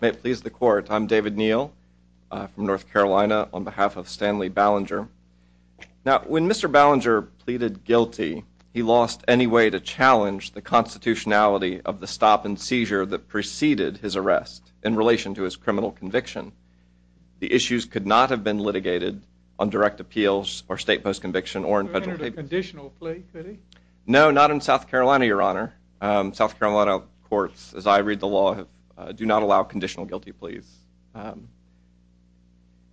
May it please the Court, I'm David Neal from North Carolina on behalf of Stanley Ballenger. Now when Mr. Ballenger pleaded guilty, he lost any way to challenge the constitutionality of the stop and seizure that preceded his arrest in relation to his criminal conviction. The issues could not have been litigated on direct appeals or state post conviction or federal papers. No, not in South Carolina, Your Honor. South Carolina courts, as I read the law, do not allow conditional guilty pleas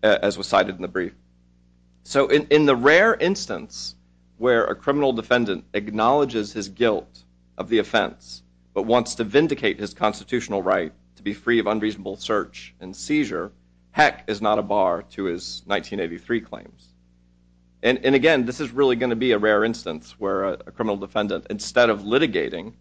as was cited in the brief. So in the rare instance where a criminal defendant acknowledges his guilt of the offense but wants to vindicate his constitutional right to be free of unreasonable search and seizure, heck is not a bar to his 1983 claims. And again, this is really going to be a rare instance where a criminal defendant, instead of litigating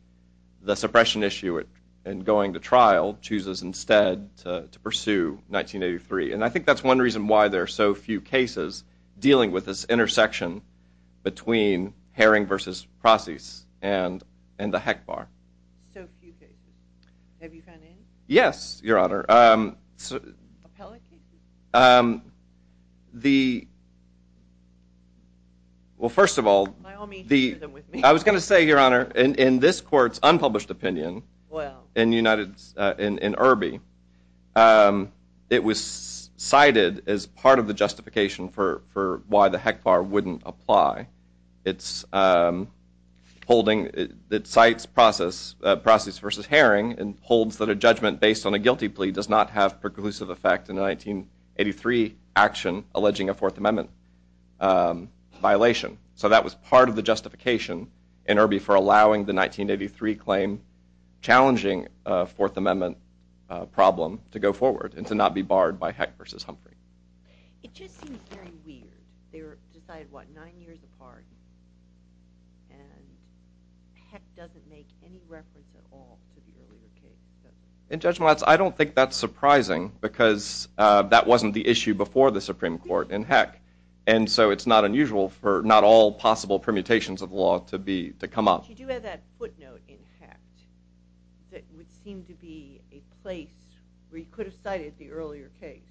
the suppression issue and going to trial, chooses instead to pursue 1983. And I think that's one reason why there are so few cases dealing with this intersection between Herring v. Crosses and the heck bar. So few cases. Have you gone in? Yes, Your Honor. Appellate cases? Well, first of all, I was going to say, Your Honor, in this court's unpublished opinion in Irby, it was cited as part of the justification for why the heck bar wouldn't apply. It cites Crosses v. Herring and holds that a judgment based on a guilty plea does not have preclusive effect in a 1983 action alleging a Fourth Amendment violation. So that was part of the justification in Irby for allowing the 1983 claim challenging a Fourth Amendment problem to go forward and to not be barred by heck v. Humphrey. It just seems very weird. They were decided, what, nine years apart? And heck doesn't make any reference at all to the earlier case. In judgment, I don't think that's surprising, because that wasn't the issue before the Supreme Court in heck. And so it's not unusual for not all possible permutations of law to come up. But you do have that footnote in heck that would seem to be a place where you could have cited the earlier case.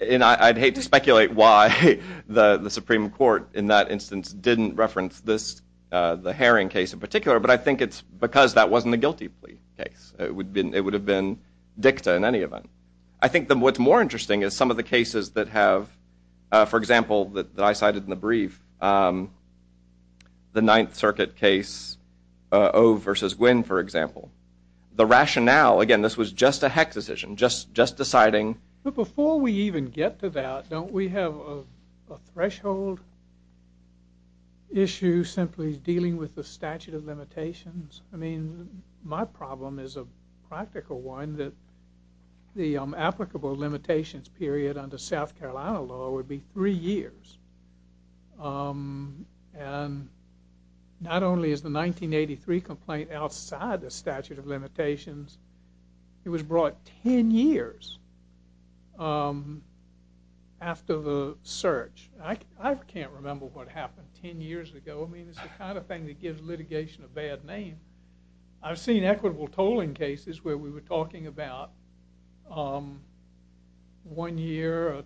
And I'd hate to speculate why the Supreme Court in that instance didn't reference the Herring case in particular. But I think it's because that wasn't a guilty plea case. It would have been dicta in any event. I think what's more interesting is some of the cases that have, for example, that I cited in the brief, the Ninth Circuit case, Ove v. Gwynne, for example. The rationale, again, this was just a heck decision, just deciding. But before we even get to that, don't we have a threshold issue simply dealing with the statute of limitations? I mean, my problem is a practical one, that the applicable limitations period under South Carolina law would be three years. And not only is the 1983 complaint outside the statute of limitations, it was brought 10 years after the search. I can't remember what happened 10 years ago. I mean, it's the kind of thing that gives litigation a bad name. I've seen equitable tolling cases where we were talking about one year,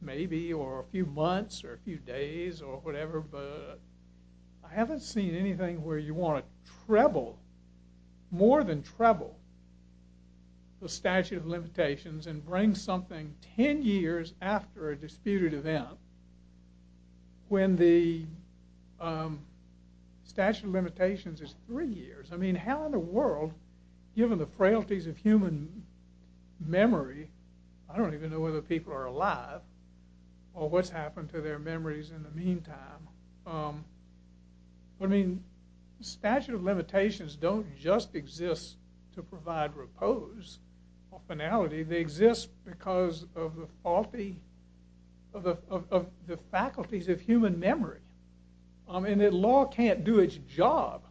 maybe, or a few months, or a few days, or whatever. But I haven't seen anything where you want to treble, more than treble, the statute of limitations is three years. I mean, how in the world, given the frailties of human memory, I don't even know whether people are alive, or what's happened to their memories in the meantime, I mean, the statute of limitations don't just exist to provide repose or finality. They exist because of the faculties of human memory. I mean, the law can't do its job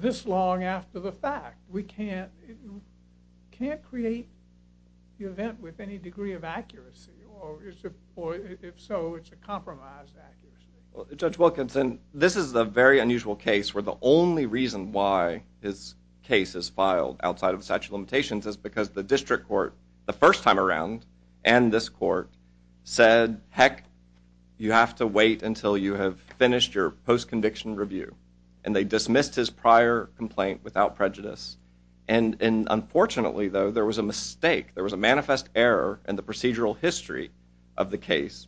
this long after the fact. We can't create the event with any degree of accuracy, or if so, it's a compromise accuracy. Judge Wilkinson, this is a very unusual case where the only reason why this case is filed outside of the statute of limitations is because the district court, the first time around, and this court said, heck, you have to wait until you have finished your post-conviction review. And they dismissed his prior complaint without prejudice. And unfortunately, though, there was a mistake. There was a manifest error in the procedural history of the case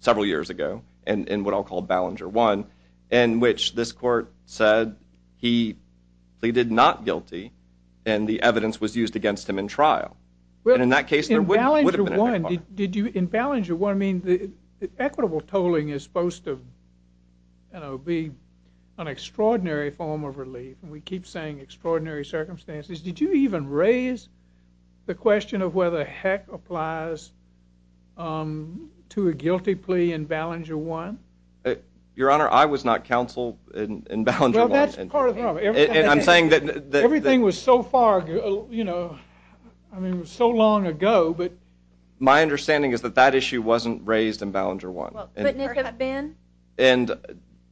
several years ago in what I'll call Ballinger 1, in which this court said he pleaded not guilty, and the evidence was used against him in trial. And in that case, there would have been a heck of a problem. In Ballinger 1, I mean, equitable tolling is supposed to be an extraordinary form of relief. And we keep saying extraordinary circumstances. Did you even raise the question of whether heck applies to a guilty plea in Ballinger 1? Your Honor, I was not counsel in Ballinger 1. Well, that's part of the problem. I'm saying that everything was so far, you know, I mean, it was so long ago. But my understanding is that that issue wasn't raised in Ballinger 1. Well, couldn't it have been? And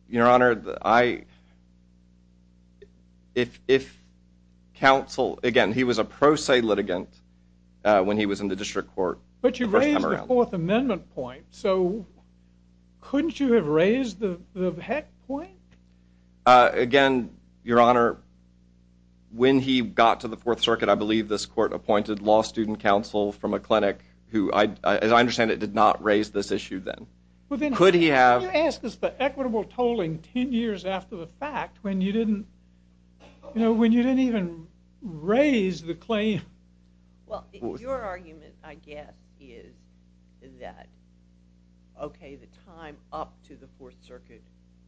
Your Honor, if counsel, again, he was a pro se litigant when he was in the district court the first time around. But you raised the Fourth Amendment point. So couldn't you have raised the heck point? Again, Your Honor, when he got to the Fourth Circuit, I believe this court appointed law student counsel from a clinic who, as I understand it, did not raise this issue then. Could he have? Could you ask us the equitable tolling 10 years after the fact when you didn't even raise the claim? Well, your argument, I guess, is that, OK, the time up to the Fourth Circuit,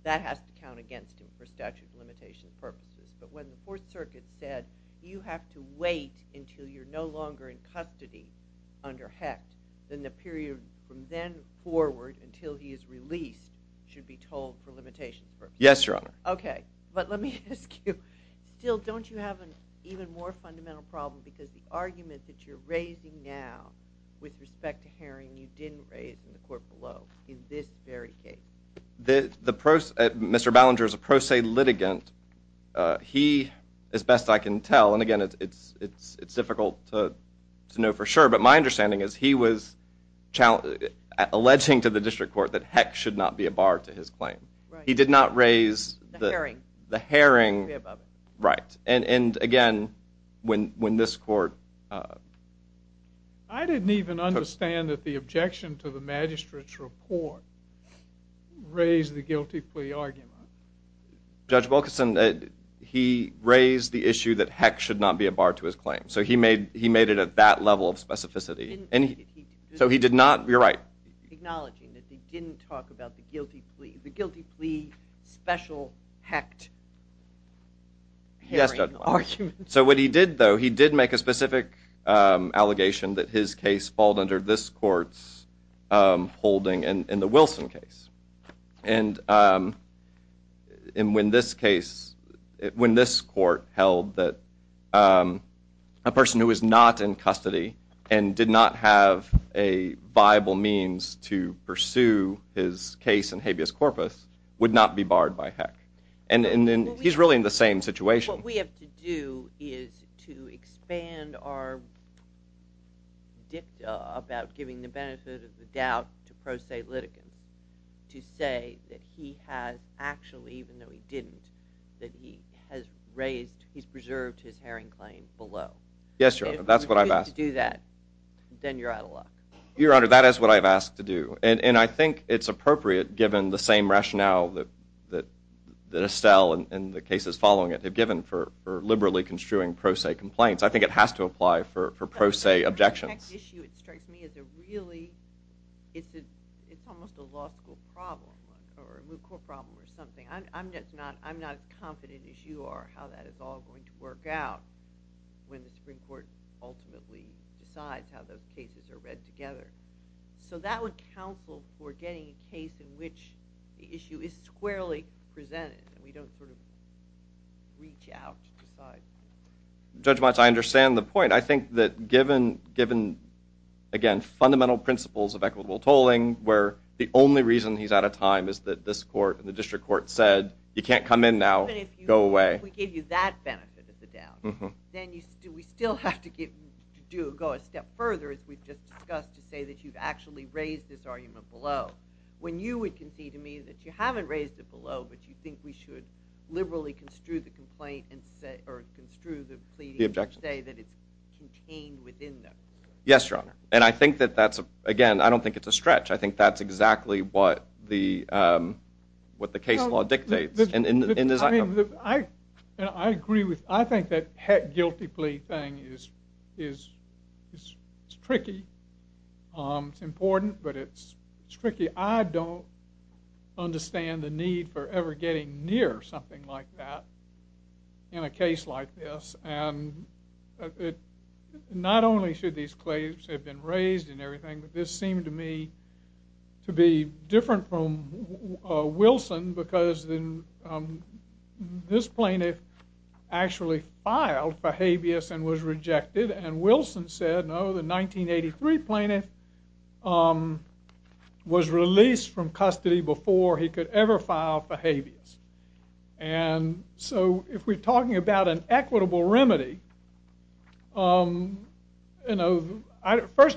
that has to count against him for statute of limitation purposes. But when the Fourth Circuit said, you have to wait until you're no longer in custody under heck, then the period from then forward until he is released should be tolled for limitation purposes. Yes, Your Honor. OK. But let me ask you. Still, don't you have an even more fundamental problem? Because the argument that you're raising now with respect to Herring, you didn't raise in the court below in this very case. Mr. Ballinger is a pro se litigant. He, as best I can tell, and again, it's difficult to know for sure, but my understanding is he was alleging to the district court that heck should not be a bar to his claim. He did not raise the Herring. Right. And again, when this court took. I didn't even understand that the objection to the magistrate's report raised the guilty plea argument. Judge Wilkerson, he raised the issue that heck should not be a bar to his claim. So he made it at that level of specificity. So he did not. You're right. Acknowledging that they didn't talk about the guilty plea. Special hecked. Yes. So what he did, though, he did make a specific allegation that his case falled under this court's holding in the Wilson case. And in when this case, when this court held that a person who is not in custody and did not have a viable means to pursue his case in habeas corpus would not be barred by heck. And he's really in the same situation. What we have to do is to expand our dicta about giving the benefit of the doubt to pro se litigants to say that he has actually, even though he didn't, that he has raised, he's preserved his Herring claim below. Yes, Your Honor, that's what I've asked. And if you don't do that, then you're out of luck. Your Honor, that is what I've asked to do. And I think it's appropriate, given the same rationale that Estelle and the cases following it have given for liberally construing pro se complaints. I think it has to apply for pro se objections. The next issue that strikes me as a really, it's almost a law school problem or a moot court problem or something. I'm not as confident as you are how that is all going to work out when the Supreme Court ultimately decides how those cases are read together. So that would counsel for getting a case in which the issue is squarely presented and we don't sort of reach out to decide. Judge Watts, I understand the point. I think that given, again, fundamental principles of equitable tolling where the only reason he's out of time is that this court and the district court said, you can't come in now, go away. But if we give you that benefit of the doubt, then we still have to go a step further, as we've just discussed, to say that you've actually raised this argument below. When you would concede to me that you haven't raised it below, but you think we should liberally construe the complaint and say, or construe the pleading and say that it's contained within there. Yes, Your Honor. And I think that that's, again, I don't think it's a stretch. I think that's exactly what the case law dictates. I mean, I agree with, I think that heck guilty plea thing is, it's tricky, it's important, but it's tricky. I don't understand the need for ever getting near something like that in a case like this. And not only should these claims have been raised and everything, but this seemed to me to be different from Wilson, because this plaintiff actually filed for habeas and was rejected. And Wilson said, no, the 1983 plaintiff was released from custody before he could ever file for habeas. And so if we're talking about an equitable remedy, first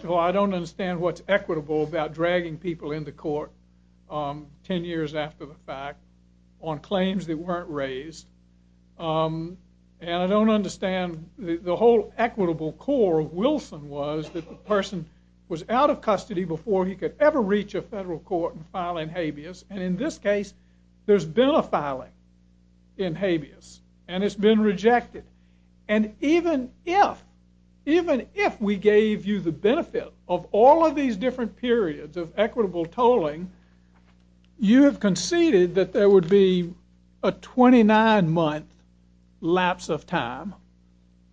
of all, I don't understand what's about dragging people into court 10 years after the fact on claims that weren't raised. And I don't understand, the whole equitable core of Wilson was that the person was out of custody before he could ever reach a federal court and file in habeas. And in this case, there's been a filing in habeas, and it's been rejected. And even if we gave you the benefit of all of these different periods of equitable tolling, you have conceded that there would be a 29-month lapse of time.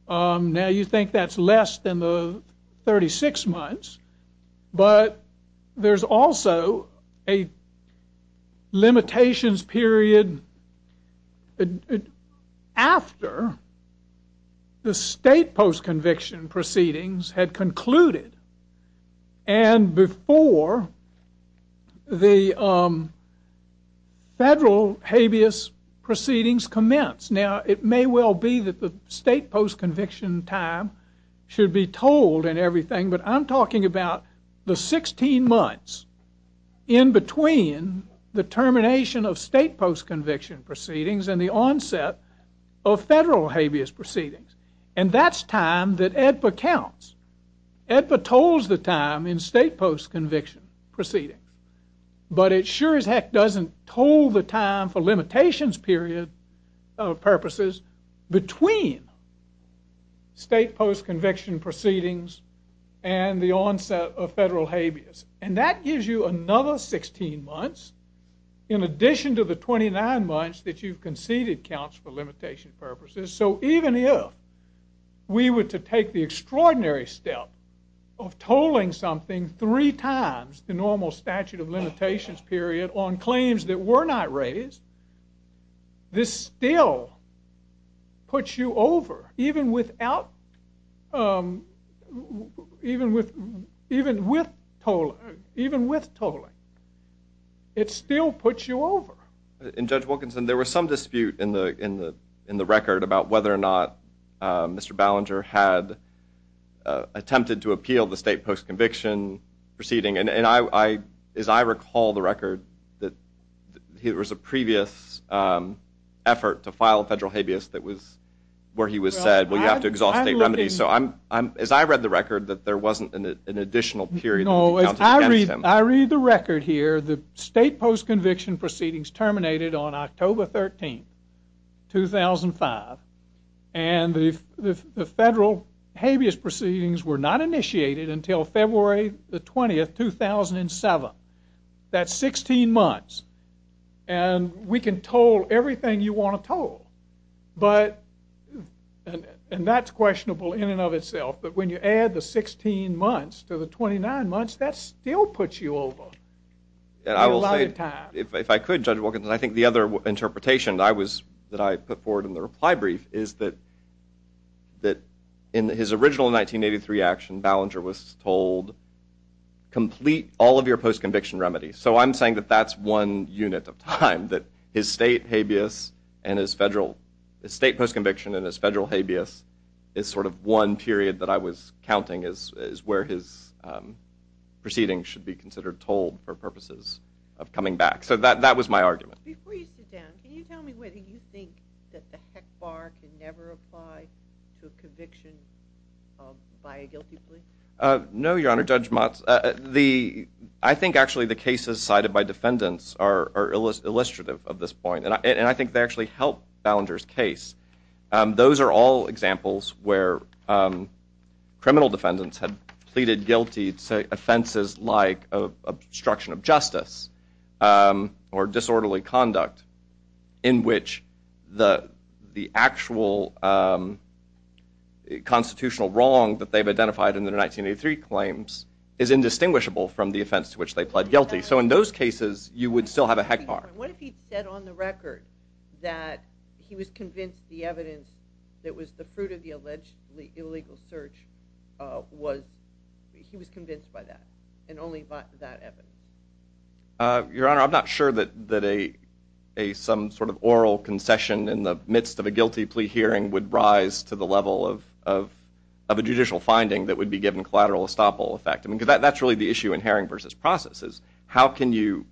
Now, you think that's less than the 36 months, but there's also a limitations period after the state post-conviction proceedings had concluded and before the federal habeas proceedings commenced. Now, it may well be that the state post-conviction time should be told and everything, but I'm and the onset of federal habeas proceedings. And that's time that AEDPA counts. AEDPA tolls the time in state post-conviction proceedings. But it sure as heck doesn't toll the time for limitations period purposes between state post-conviction proceedings and the onset of federal habeas. And that gives you another 16 months in addition to the 29 months that you've conceded counts for limitation purposes. So even if we were to take the extraordinary step of tolling something three times the normal statute of limitations period on claims that were not raised, this still puts you over, even with tolling. It still puts you over. In Judge Wilkinson, there was some dispute in the record about whether or not Mr. Ballinger had attempted to appeal the state post-conviction proceeding. And as I recall the record, there was a previous effort to file a federal habeas that was where he was said, well, you have to exhaust state remedies. So as I read the record, that there wasn't an additional period that he counted against him. I read the record here. The state post-conviction proceedings terminated on October 13, 2005. And the federal habeas proceedings were not initiated until February the 20th, 2007. That's 16 months. And we can toll everything you want to toll. But, and that's questionable in and of itself. But when you add the 16 months to the 29 months, that still puts you over. A lot of time. If I could, Judge Wilkinson, I think the other interpretation that I put forward in the reply brief is that in his original 1983 action, Ballinger was told, complete all of your post-conviction remedies. So I'm saying that that's one unit of time, that his state habeas and his federal, his state post-conviction and his federal habeas is sort of one period that I was counting as where his proceedings should be considered tolled for purposes of coming back. So that was my argument. Before you sit down, can you tell me whether you think that the heck bar can never apply to a conviction by a guilty plea? No, Your Honor, Judge Motz. I think actually the cases cited by defendants are illustrative of this point. And I think they actually help Ballinger's case. Those are all examples where criminal defendants have pleaded guilty to offenses like obstruction of justice or disorderly conduct in which the actual constitutional wrong that they've identified in their 1983 claims is indistinguishable from the offense to which they pled guilty. So in those cases, you would still have a heck bar. What if he said on the record that he was convinced the evidence that was the fruit of the allegedly illegal search was, he was convinced by that and only by that evidence? Your Honor, I'm not sure that a, some sort of oral concession in the midst of a guilty plea hearing would rise to the level of a judicial finding that would be given collateral estoppel effect. I mean, because that's really the issue in Herring versus Processes. How can you,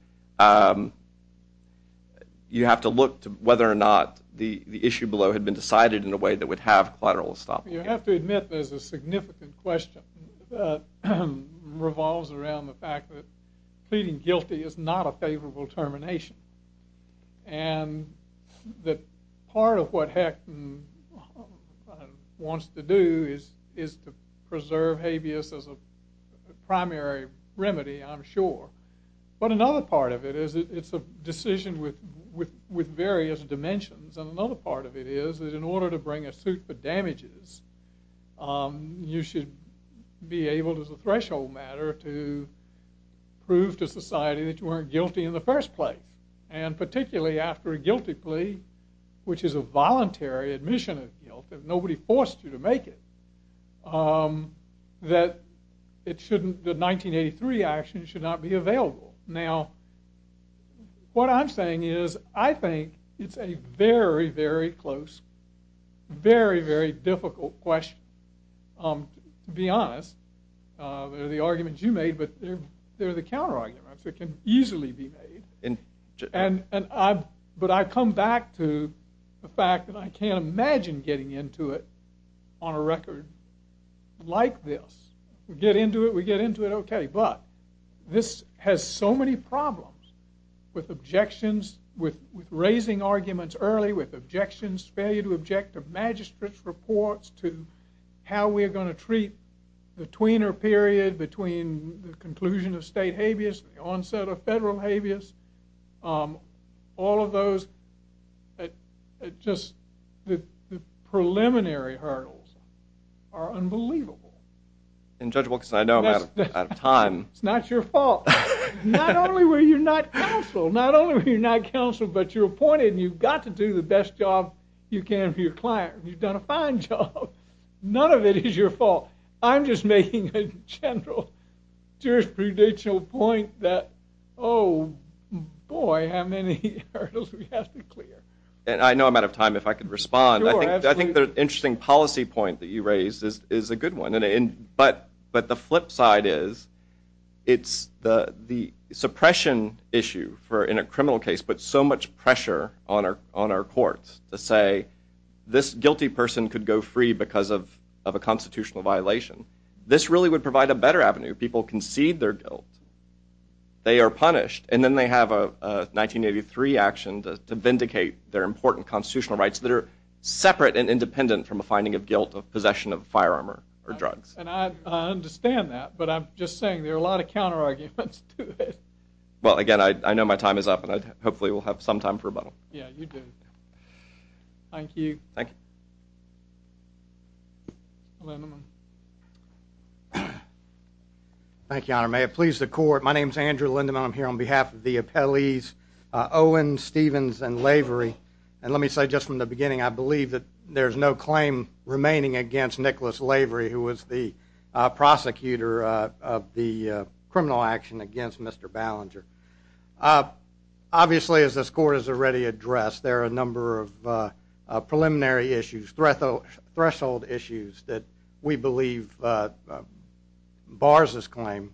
you have to look to whether or not the issue below had been decided in a way that would have collateral estoppel effect. You have to admit there's a significant question that revolves around the fact that pleading guilty is not a favorable termination. And that part of what Hecht wants to do is to preserve habeas as a primary remedy, I'm sure. But another part of it is it's a decision with various dimensions. And another part of it is that in order to bring a suit for damages, you should be able as a threshold matter to prove to society that you weren't guilty in the first place. And particularly after a guilty plea, which is a voluntary admission of guilt, if nobody forced you to make it, that it shouldn't, the 1983 action should not be available. Now, what I'm saying is I think it's a very, very close, very, very difficult question. To be honest, they're the arguments you made, but they're the counterarguments that can easily be made. But I come back to the fact that I can't imagine getting into it on a record like this. We get into it, we get into it okay. But this has so many problems with objections, with raising arguments early, with objections, failure to object to magistrate's reports, to how we are going to treat the tweener period between the conclusion of state habeas and the onset of federal habeas. All of those, just the preliminary hurdles are unbelievable. And judge Wilkerson, I know I'm out of time. It's not your fault. Not only were you not counseled, not only were you not counseled, but you're appointed and you've got to do the best job you can for your client. You've done a fine job. None of it is your fault. I'm just making a general jurisprudential point that, oh boy, how many hurdles we have to clear. And I know I'm out of time. If I could respond, I think the interesting policy point that you raised is a good one. But the flip side is, it's the suppression issue for, in a criminal case, puts so much pressure on our courts to say, this guilty person could go free because of a constitutional violation. This really would provide a better avenue. People concede their guilt. They are punished. And then they have a 1983 action to vindicate their important constitutional rights that are separate and independent from a finding of guilt of possession of firearm or drugs. And I understand that. But I'm just saying, there are a lot of counterarguments to it. Well, again, I know my time is up. And hopefully, we'll have some time for rebuttal. Yeah, you do. Thank you. Thank you. Thank you, Your Honor. May it please the court, my name's Andrew Lindeman. I'm here on behalf of the appellees Owen, Stevens, and Lavery. And let me say just from the beginning, I believe that there's no claim remaining against Nicholas Lavery, who was the prosecutor of the criminal action against Mr. Ballinger. Obviously, as this court has already addressed, there are a number of preliminary issues, threshold issues that we believe bars this claim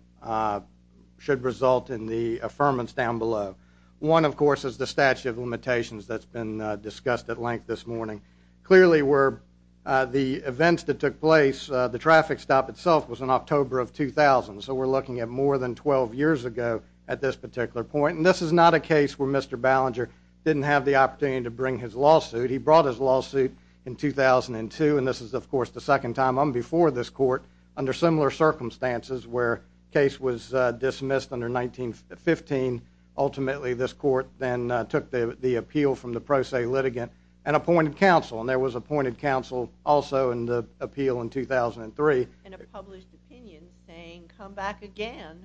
should result in the affirmance down below. One, of course, is the statute of limitations that's been discussed at length this morning. Clearly, where the events that took place, the traffic stop itself was in October of 2000. So we're looking at more than 12 years ago at this particular point. And this is not a case where Mr. Ballinger didn't have the opportunity to bring his lawsuit. He brought his lawsuit in 2002. And this is, of course, the second time I'm before this court under similar circumstances where the case was dismissed under 1915. Ultimately, this court then took the appeal from the pro se litigant and appointed counsel. And there was appointed counsel also in the appeal in 2003. And a published opinion saying, come back again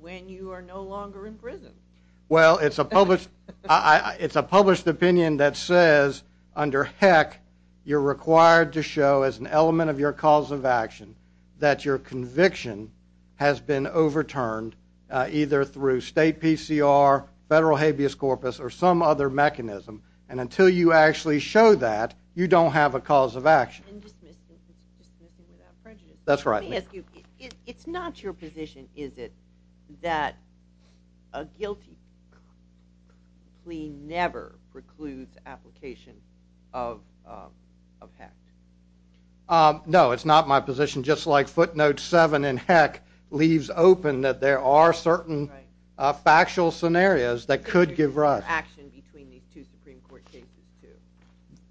when you are no longer in prison. Well, it's a published opinion that says, under heck, you're required to show as an element of your cause of action that your conviction has been overturned either through state PCR, federal habeas corpus, or some other mechanism. And until you actually show that, you don't have a cause of action. And dismissing without prejudice. That's right. Let me ask you, it's not your position, is it, that a guilty plea never precludes application of heck? No, it's not my position. Just like footnote 7 in heck leaves open that there are certain factual scenarios that could give rise. Action between these two Supreme Court cases, too.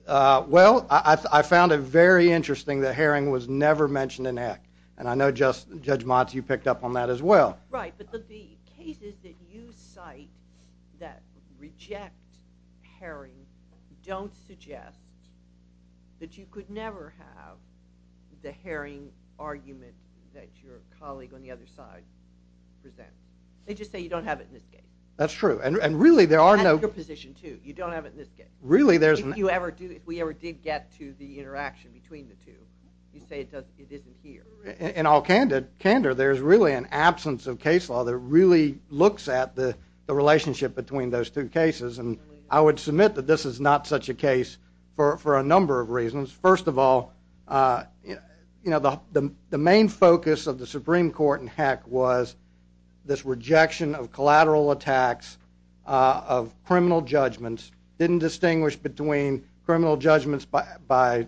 Well, I found it very interesting that herring was never mentioned in heck. And I know Judge Motz, you picked up on that as well. Right. But the cases that you cite that reject herring don't suggest that you could never have the herring argument that your colleague on the other side presents. They just say you don't have it in this case. That's true. And really, there are no- That's your position, too. You don't have it in this case. Really, there's- If we ever did get to the interaction between the two, you say it isn't here. In all candor, there's really an absence of case law that really looks at the relationship between those two cases. And I would submit that this is not such a case for a number of reasons. First of all, the main focus of the Supreme Court in heck was this rejection of collateral attacks of criminal judgments. Didn't distinguish between criminal judgments by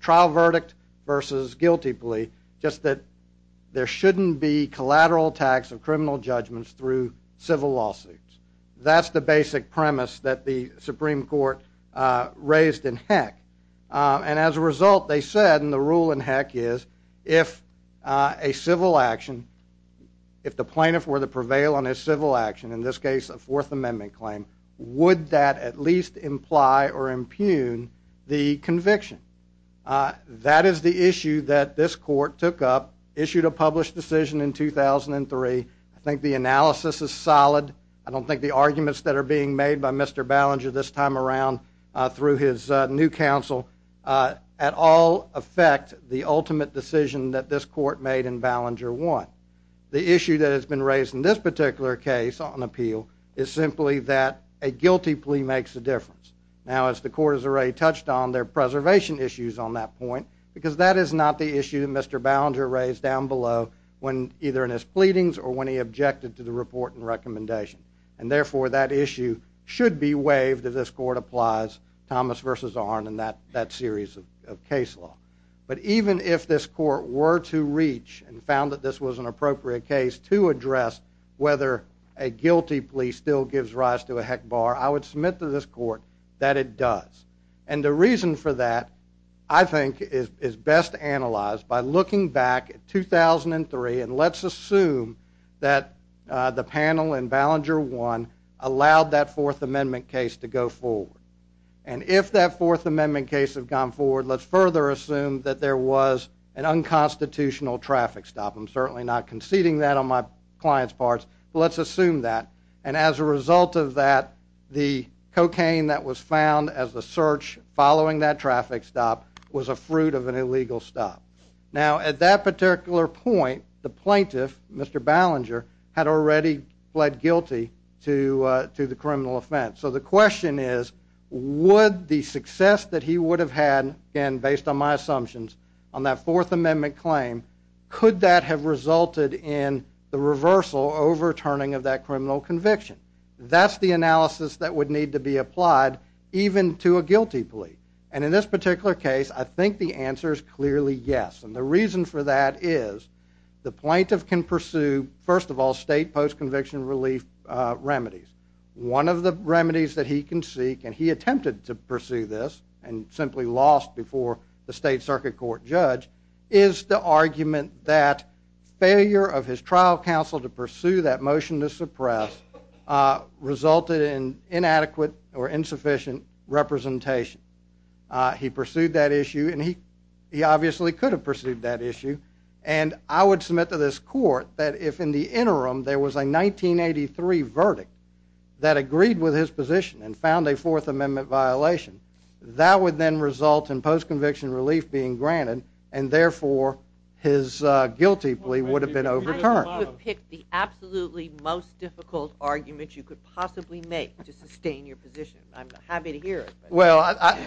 trial verdict versus guilty plea. Just that there shouldn't be collateral attacks of criminal judgments through civil lawsuits. That's the basic premise that the Supreme Court raised in heck. And as a result, they said, and the rule in heck is, if a civil action- If a plaintiff were to prevail on his civil action, in this case a Fourth Amendment claim, would that at least imply or impugn the conviction? That is the issue that this court took up, issued a published decision in 2003. I think the analysis is solid. I don't think the arguments that are being made by Mr. Ballinger this time around through his new counsel at all affect the ultimate decision that this court made in Ballinger 1. The issue that has been raised in this particular case on appeal is simply that a guilty plea makes a difference. Now, as the court has already touched on, there are preservation issues on that point because that is not the issue that Mr. Ballinger raised down below when either in his pleadings or when he objected to the report and recommendation. And therefore, that issue should be waived if this court applies Thomas v. Arnn and that series of case law. But even if this court were to reach and found that this was an appropriate case to address whether a guilty plea still gives rise to a heck bar, I would submit to this court that it does. And the reason for that, I think, is best analyzed by looking back at 2003 and let's assume that the panel in Ballinger 1 allowed that Fourth Amendment case to go forward. And if that Fourth Amendment case had gone forward, let's further assume that there was an unconstitutional traffic stop. I'm certainly not conceding that on my client's part, but let's assume that. And as a result of that, the cocaine that was found as the search following that traffic stop was a fruit of an illegal stop. Now, at that particular point, the plaintiff, Mr. Ballinger, had already pled guilty to the criminal offense. So the question is, would the success that he would have had, and based on my assumptions, on that Fourth Amendment claim, could that have resulted in the reversal, overturning of that criminal conviction? That's the analysis that would need to be applied even to a guilty plea. And in this particular case, I think the answer is clearly yes. And the reason for that is the plaintiff can pursue, first of all, state post-conviction relief remedies. One of the remedies that he can seek, and he attempted to pursue this, and simply lost before the state circuit court judge, is the argument that failure of his trial counsel to pursue that motion to suppress resulted in inadequate or insufficient representation. He pursued that issue, and he obviously could have pursued that issue. And I would submit to this court that if, in the interim, there was a 1983 verdict that agreed with his position and found a Fourth Amendment violation, that would then result in post-conviction relief being granted, and therefore, his guilty plea would have been overturned. I would pick the absolutely most difficult argument you could possibly make to sustain your position. I'm happy to hear it. Well,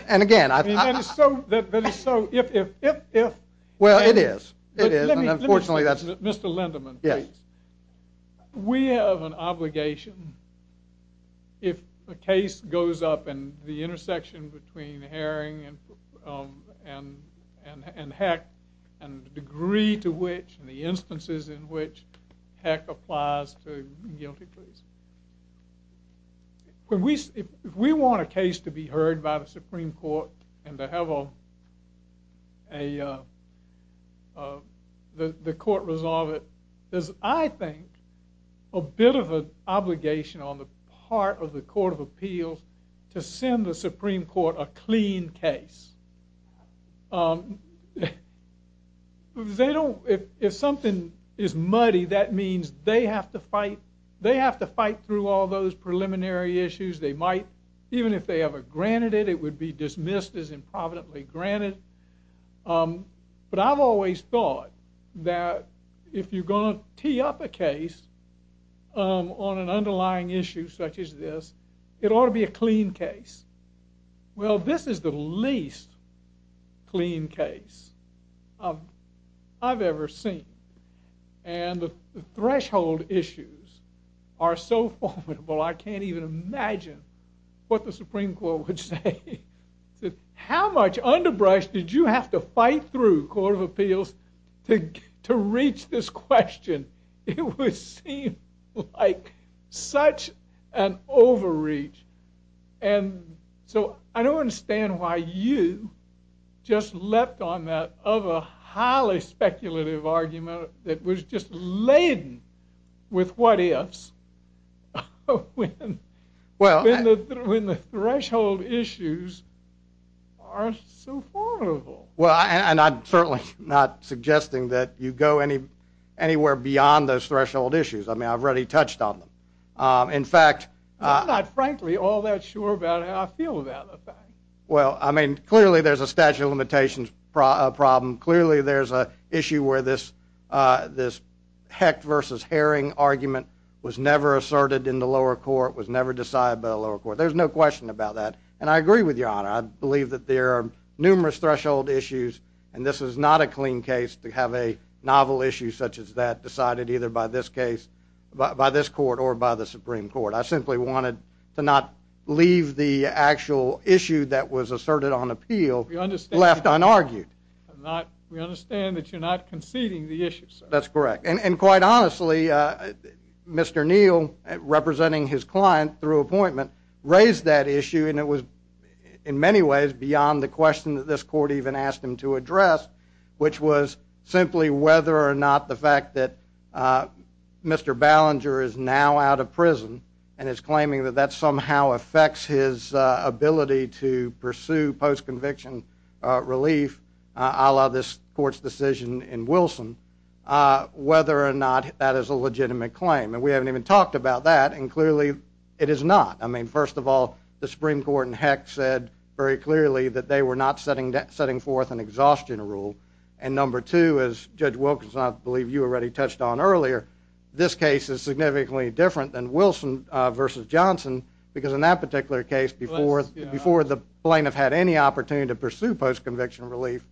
and again, I... That is so, that is so, if, if, if, if... Well, it is. It is, and unfortunately, that's... Mr. Linderman, please. We have an obligation, if a case goes up in the intersection between Herring and Heck, and the degree to which, and the instances in which Heck applies to guilty pleas. When we, if we want a case to be heard by the Supreme Court, and to have a, a, uh, uh, the, the court resolve it, there's, I think, a bit of an obligation on the part of the Court of Appeals to send the Supreme Court a clean case. Um, they don't, if, if something is muddy, that means they have to fight, they have to fight through all those preliminary issues. They might, even if they ever granted it, it would be dismissed as improvidently granted. Um, but I've always thought that if you're going to tee up a case, um, on an underlying issue such as this, it ought to be a clean case. Well, this is the least clean case I've, I've ever seen. And the threshold issues are so formidable, I can't even imagine what the Supreme Court would say. How much underbrush did you have to fight through, Court of Appeals, to, to reach this question? It would seem like such an overreach. And so, I don't understand why you just leapt on that, of a highly speculative argument that was just laden with what-ifs, when, when the, when the threshold issues are so formidable. Well, and I'm certainly not suggesting that you go any, anywhere beyond those threshold issues. I mean, I've already touched on them. Um, in fact, I'm not frankly all that sure about how I feel about the fact. Well, I mean, clearly there's a statute of limitations prob, problem. Clearly there's a issue where this, uh, this Hecht versus Herring argument was never asserted in the lower court, was never decided by the lower court. There's no question about that. And I agree with Your Honor. I believe that there are numerous threshold issues, and this is not a clean case to have a novel issue such as that decided either by this case, by, by this court or by the Supreme Court. I simply wanted to not leave the actual issue that was asserted on appeal left unargued. I'm not, we understand that you're not conceding the issue, sir. That's correct. And, and quite honestly, uh, Mr. Neal, representing his client through appointment, raised that issue, and it was in many ways beyond the question that this court even asked him to address, which was simply whether or not the fact that, uh, Mr. Ballinger is now out of prison and is claiming that that somehow affects his, uh, ability to pursue post-conviction, uh, relief, uh, a la this court's decision in Wilson, uh, whether or not that is a legitimate claim. And we haven't even talked about that, and clearly it is not. I mean, first of all, the Supreme Court in Hecht said very clearly that they were not setting, setting forth an exhaustion rule. And number two, as Judge Wilkerson, I believe you already touched on earlier, this case is significantly different than Wilson, uh, versus Johnson, because in that particular case, before, before the plaintiff had any opportunity to pursue post-conviction relief,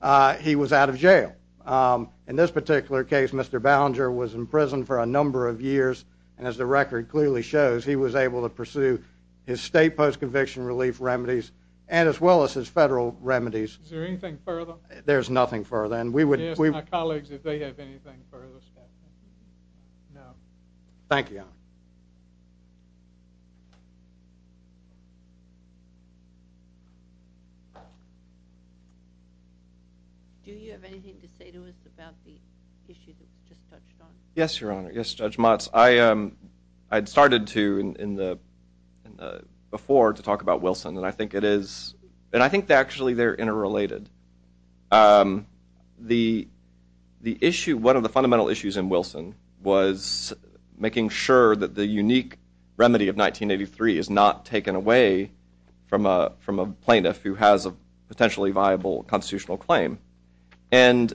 uh, he was out of jail. Um, in this particular case, Mr. Ballinger was in prison for a number of years, and as the record clearly shows, he was able to pursue his state post-conviction relief remedies, and as well as his federal remedies. Is there anything further? There's nothing further, and we would, we... No. Thank you, Your Honor. Do you have anything to say to us about the issue that's just touched on? Yes, Your Honor. Yes, Judge Motz. I, um, I'd started to in, in the, in the, before to talk about Wilson, and I think it is, and I think that actually they're interrelated. Um, the, the issue, one of the fundamental issues in Wilson was making sure that the unique remedy of 1983 is not taken away from a, from a plaintiff who has a potentially viable constitutional claim. And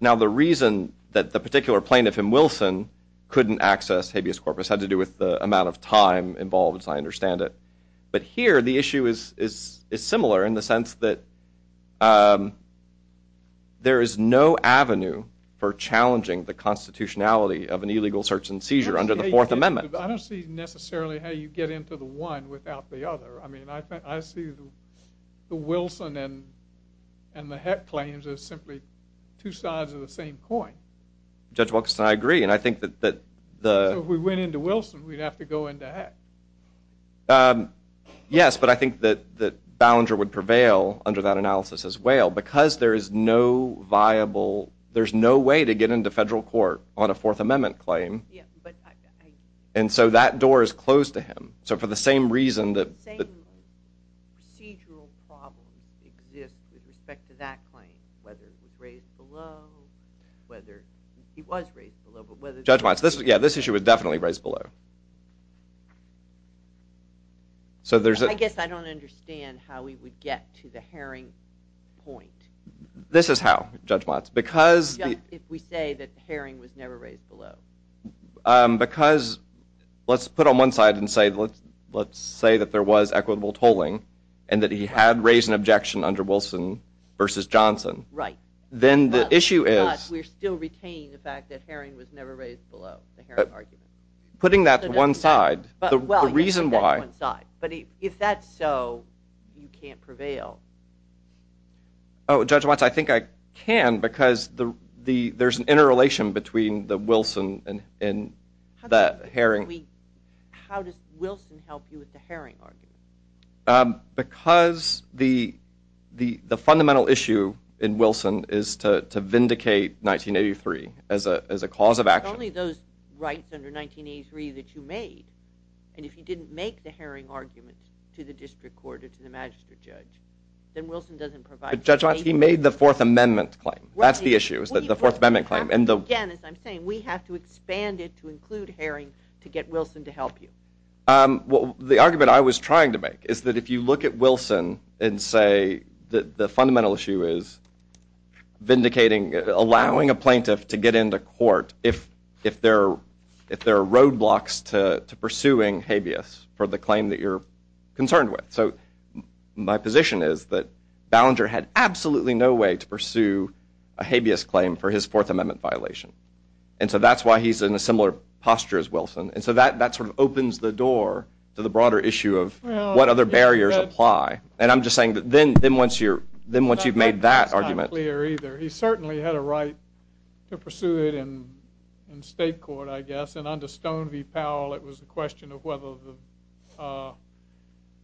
now the reason that the particular plaintiff in Wilson couldn't access habeas corpus had to do with the amount of time involved, as I understand it. But here, the issue is, is, is similar in the sense that, um, there is no avenue for challenging the constitutionality of an illegal search and seizure under the Fourth Amendment. I don't see necessarily how you get into the one without the other. I mean, I, I see the, the Wilson and, and the Heck claims as simply two sides of the same coin. Judge Wilkerson, I agree, and I think that, that the... So if we went into Wilson, we'd have to go into Heck. Um, yes, but I think that, that Ballinger would prevail under that analysis as well, because there is no viable, there's no way to get into federal court on a Fourth Amendment claim. Yeah, but I... And so that door is closed to him. So for the same reason that... The same procedural problems exist with respect to that claim, whether it was raised below, whether, it was raised below, but whether... Judge Motz, this, yeah, this issue was definitely raised below. So there's a... I guess I don't understand how we would get to the Herring point. This is how, Judge Motz, because... Just if we say that Herring was never raised below. Um, because, let's put on one side and say, let's, let's say that there was equitable tolling, and that he had raised an objection under Wilson versus Johnson. Right. Then the issue is... Putting that to one side, the reason why... Oh, Judge Motz, I think I can, because there's an interrelation between the Wilson and the Herring. Because the fundamental issue in Wilson is to vindicate 1983 as a cause of action. If it's only those rights under 1983 that you made, and if you didn't make the Herring argument to the district court or to the magistrate judge, then Wilson doesn't provide... But, Judge Motz, he made the Fourth Amendment claim. That's the issue, is the Fourth Amendment claim, and the... Again, as I'm saying, we have to expand it to include Herring to get Wilson to help you. Um, well, the argument I was trying to make is that if you look at Wilson and say that the fundamental issue is vindicating, allowing a plaintiff to get into court if there are roadblocks to pursuing habeas for the claim that you're concerned with. So my position is that Ballinger had absolutely no way to pursue a habeas claim for his Fourth Amendment violation. And so that's why he's in a similar posture as Wilson. And so that sort of opens the door to the broader issue of what other barriers apply. And I'm just saying that then once you've made that argument... Well, you had a right to pursue it in state court, I guess. And under Stone v. Powell, it was a question of whether the...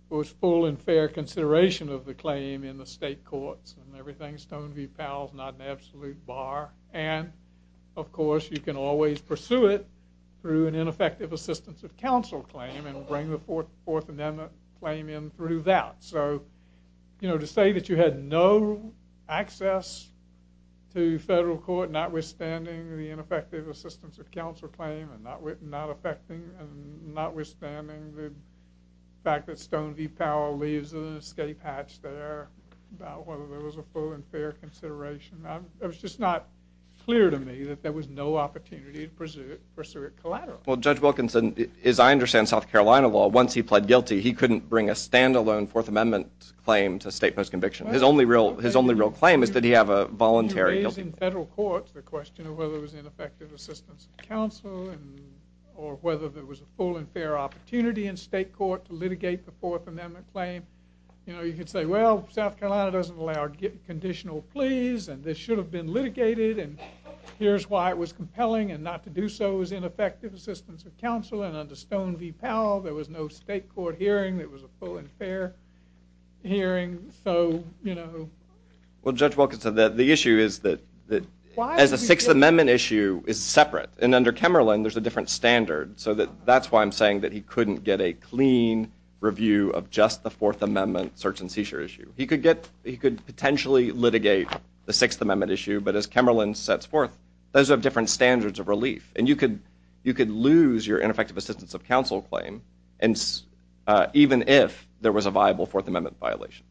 was full and fair consideration of the claim in the state courts and everything. Stone v. Powell's not an absolute bar. And, of course, you can always pursue it through an ineffective assistance of counsel claim and bring the Fourth Amendment claim in through that. So, you know, to say that you had no access to federal court notwithstanding the ineffective assistance of counsel claim and notwithstanding the fact that Stone v. Powell leaves an escape hatch there, about whether there was a full and fair consideration, it was just not clear to me that there was no opportunity to pursue it collateral. Well, Judge Wilkinson, as I understand South Carolina law, once he pled guilty, he couldn't bring a stand-alone Fourth Amendment claim to state post-conviction. His only real claim is that he have a voluntary... In federal courts, the question of whether it was ineffective assistance of counsel or whether there was a full and fair opportunity in state court to litigate the Fourth Amendment claim, you could say, well, South Carolina doesn't allow conditional pleas and this should have been litigated and here's why it was compelling and not to do so was ineffective assistance of counsel. And under Stone v. Powell, there was no state court hearing. There was a full and fair hearing. So, you know... Well, Judge Wilkinson, the issue is that as a Sixth Amendment issue is separate and under Kemmerlin, there's a different standard. So that's why I'm saying that he couldn't get a clean review of just the Fourth Amendment search and seizure issue. He could potentially litigate the Sixth Amendment issue, but as Kemmerlin sets forth, those are different standards of relief. And you could lose your ineffective assistance of counsel claim even if there was a viable Fourth Amendment violation.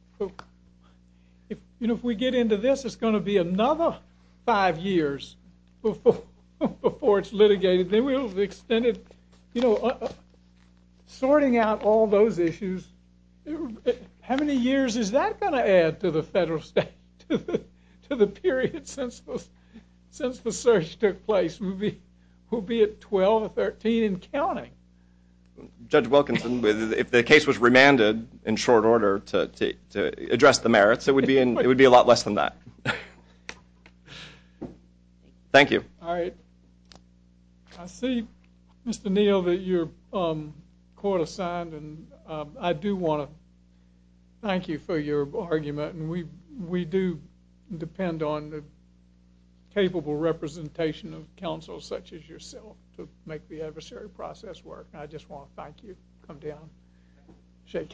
You know, if we get into this, it's going to be another five years before it's litigated. Then we'll have extended... Sorting out all those issues, how many years is that going to add to the federal state, to the period since the search took place? We'll be at 12 or 13 and counting. Judge Wilkinson, if the case was remanded in short order to address the merits, it would be a lot less than that. Thank you. All right. I see, Mr. Neal, that you're court-assigned, and I do want to thank you for your argument. We do depend on the capable representation of counsel such as yourself to make the adversary process work, and I just want to thank you. Shake hands.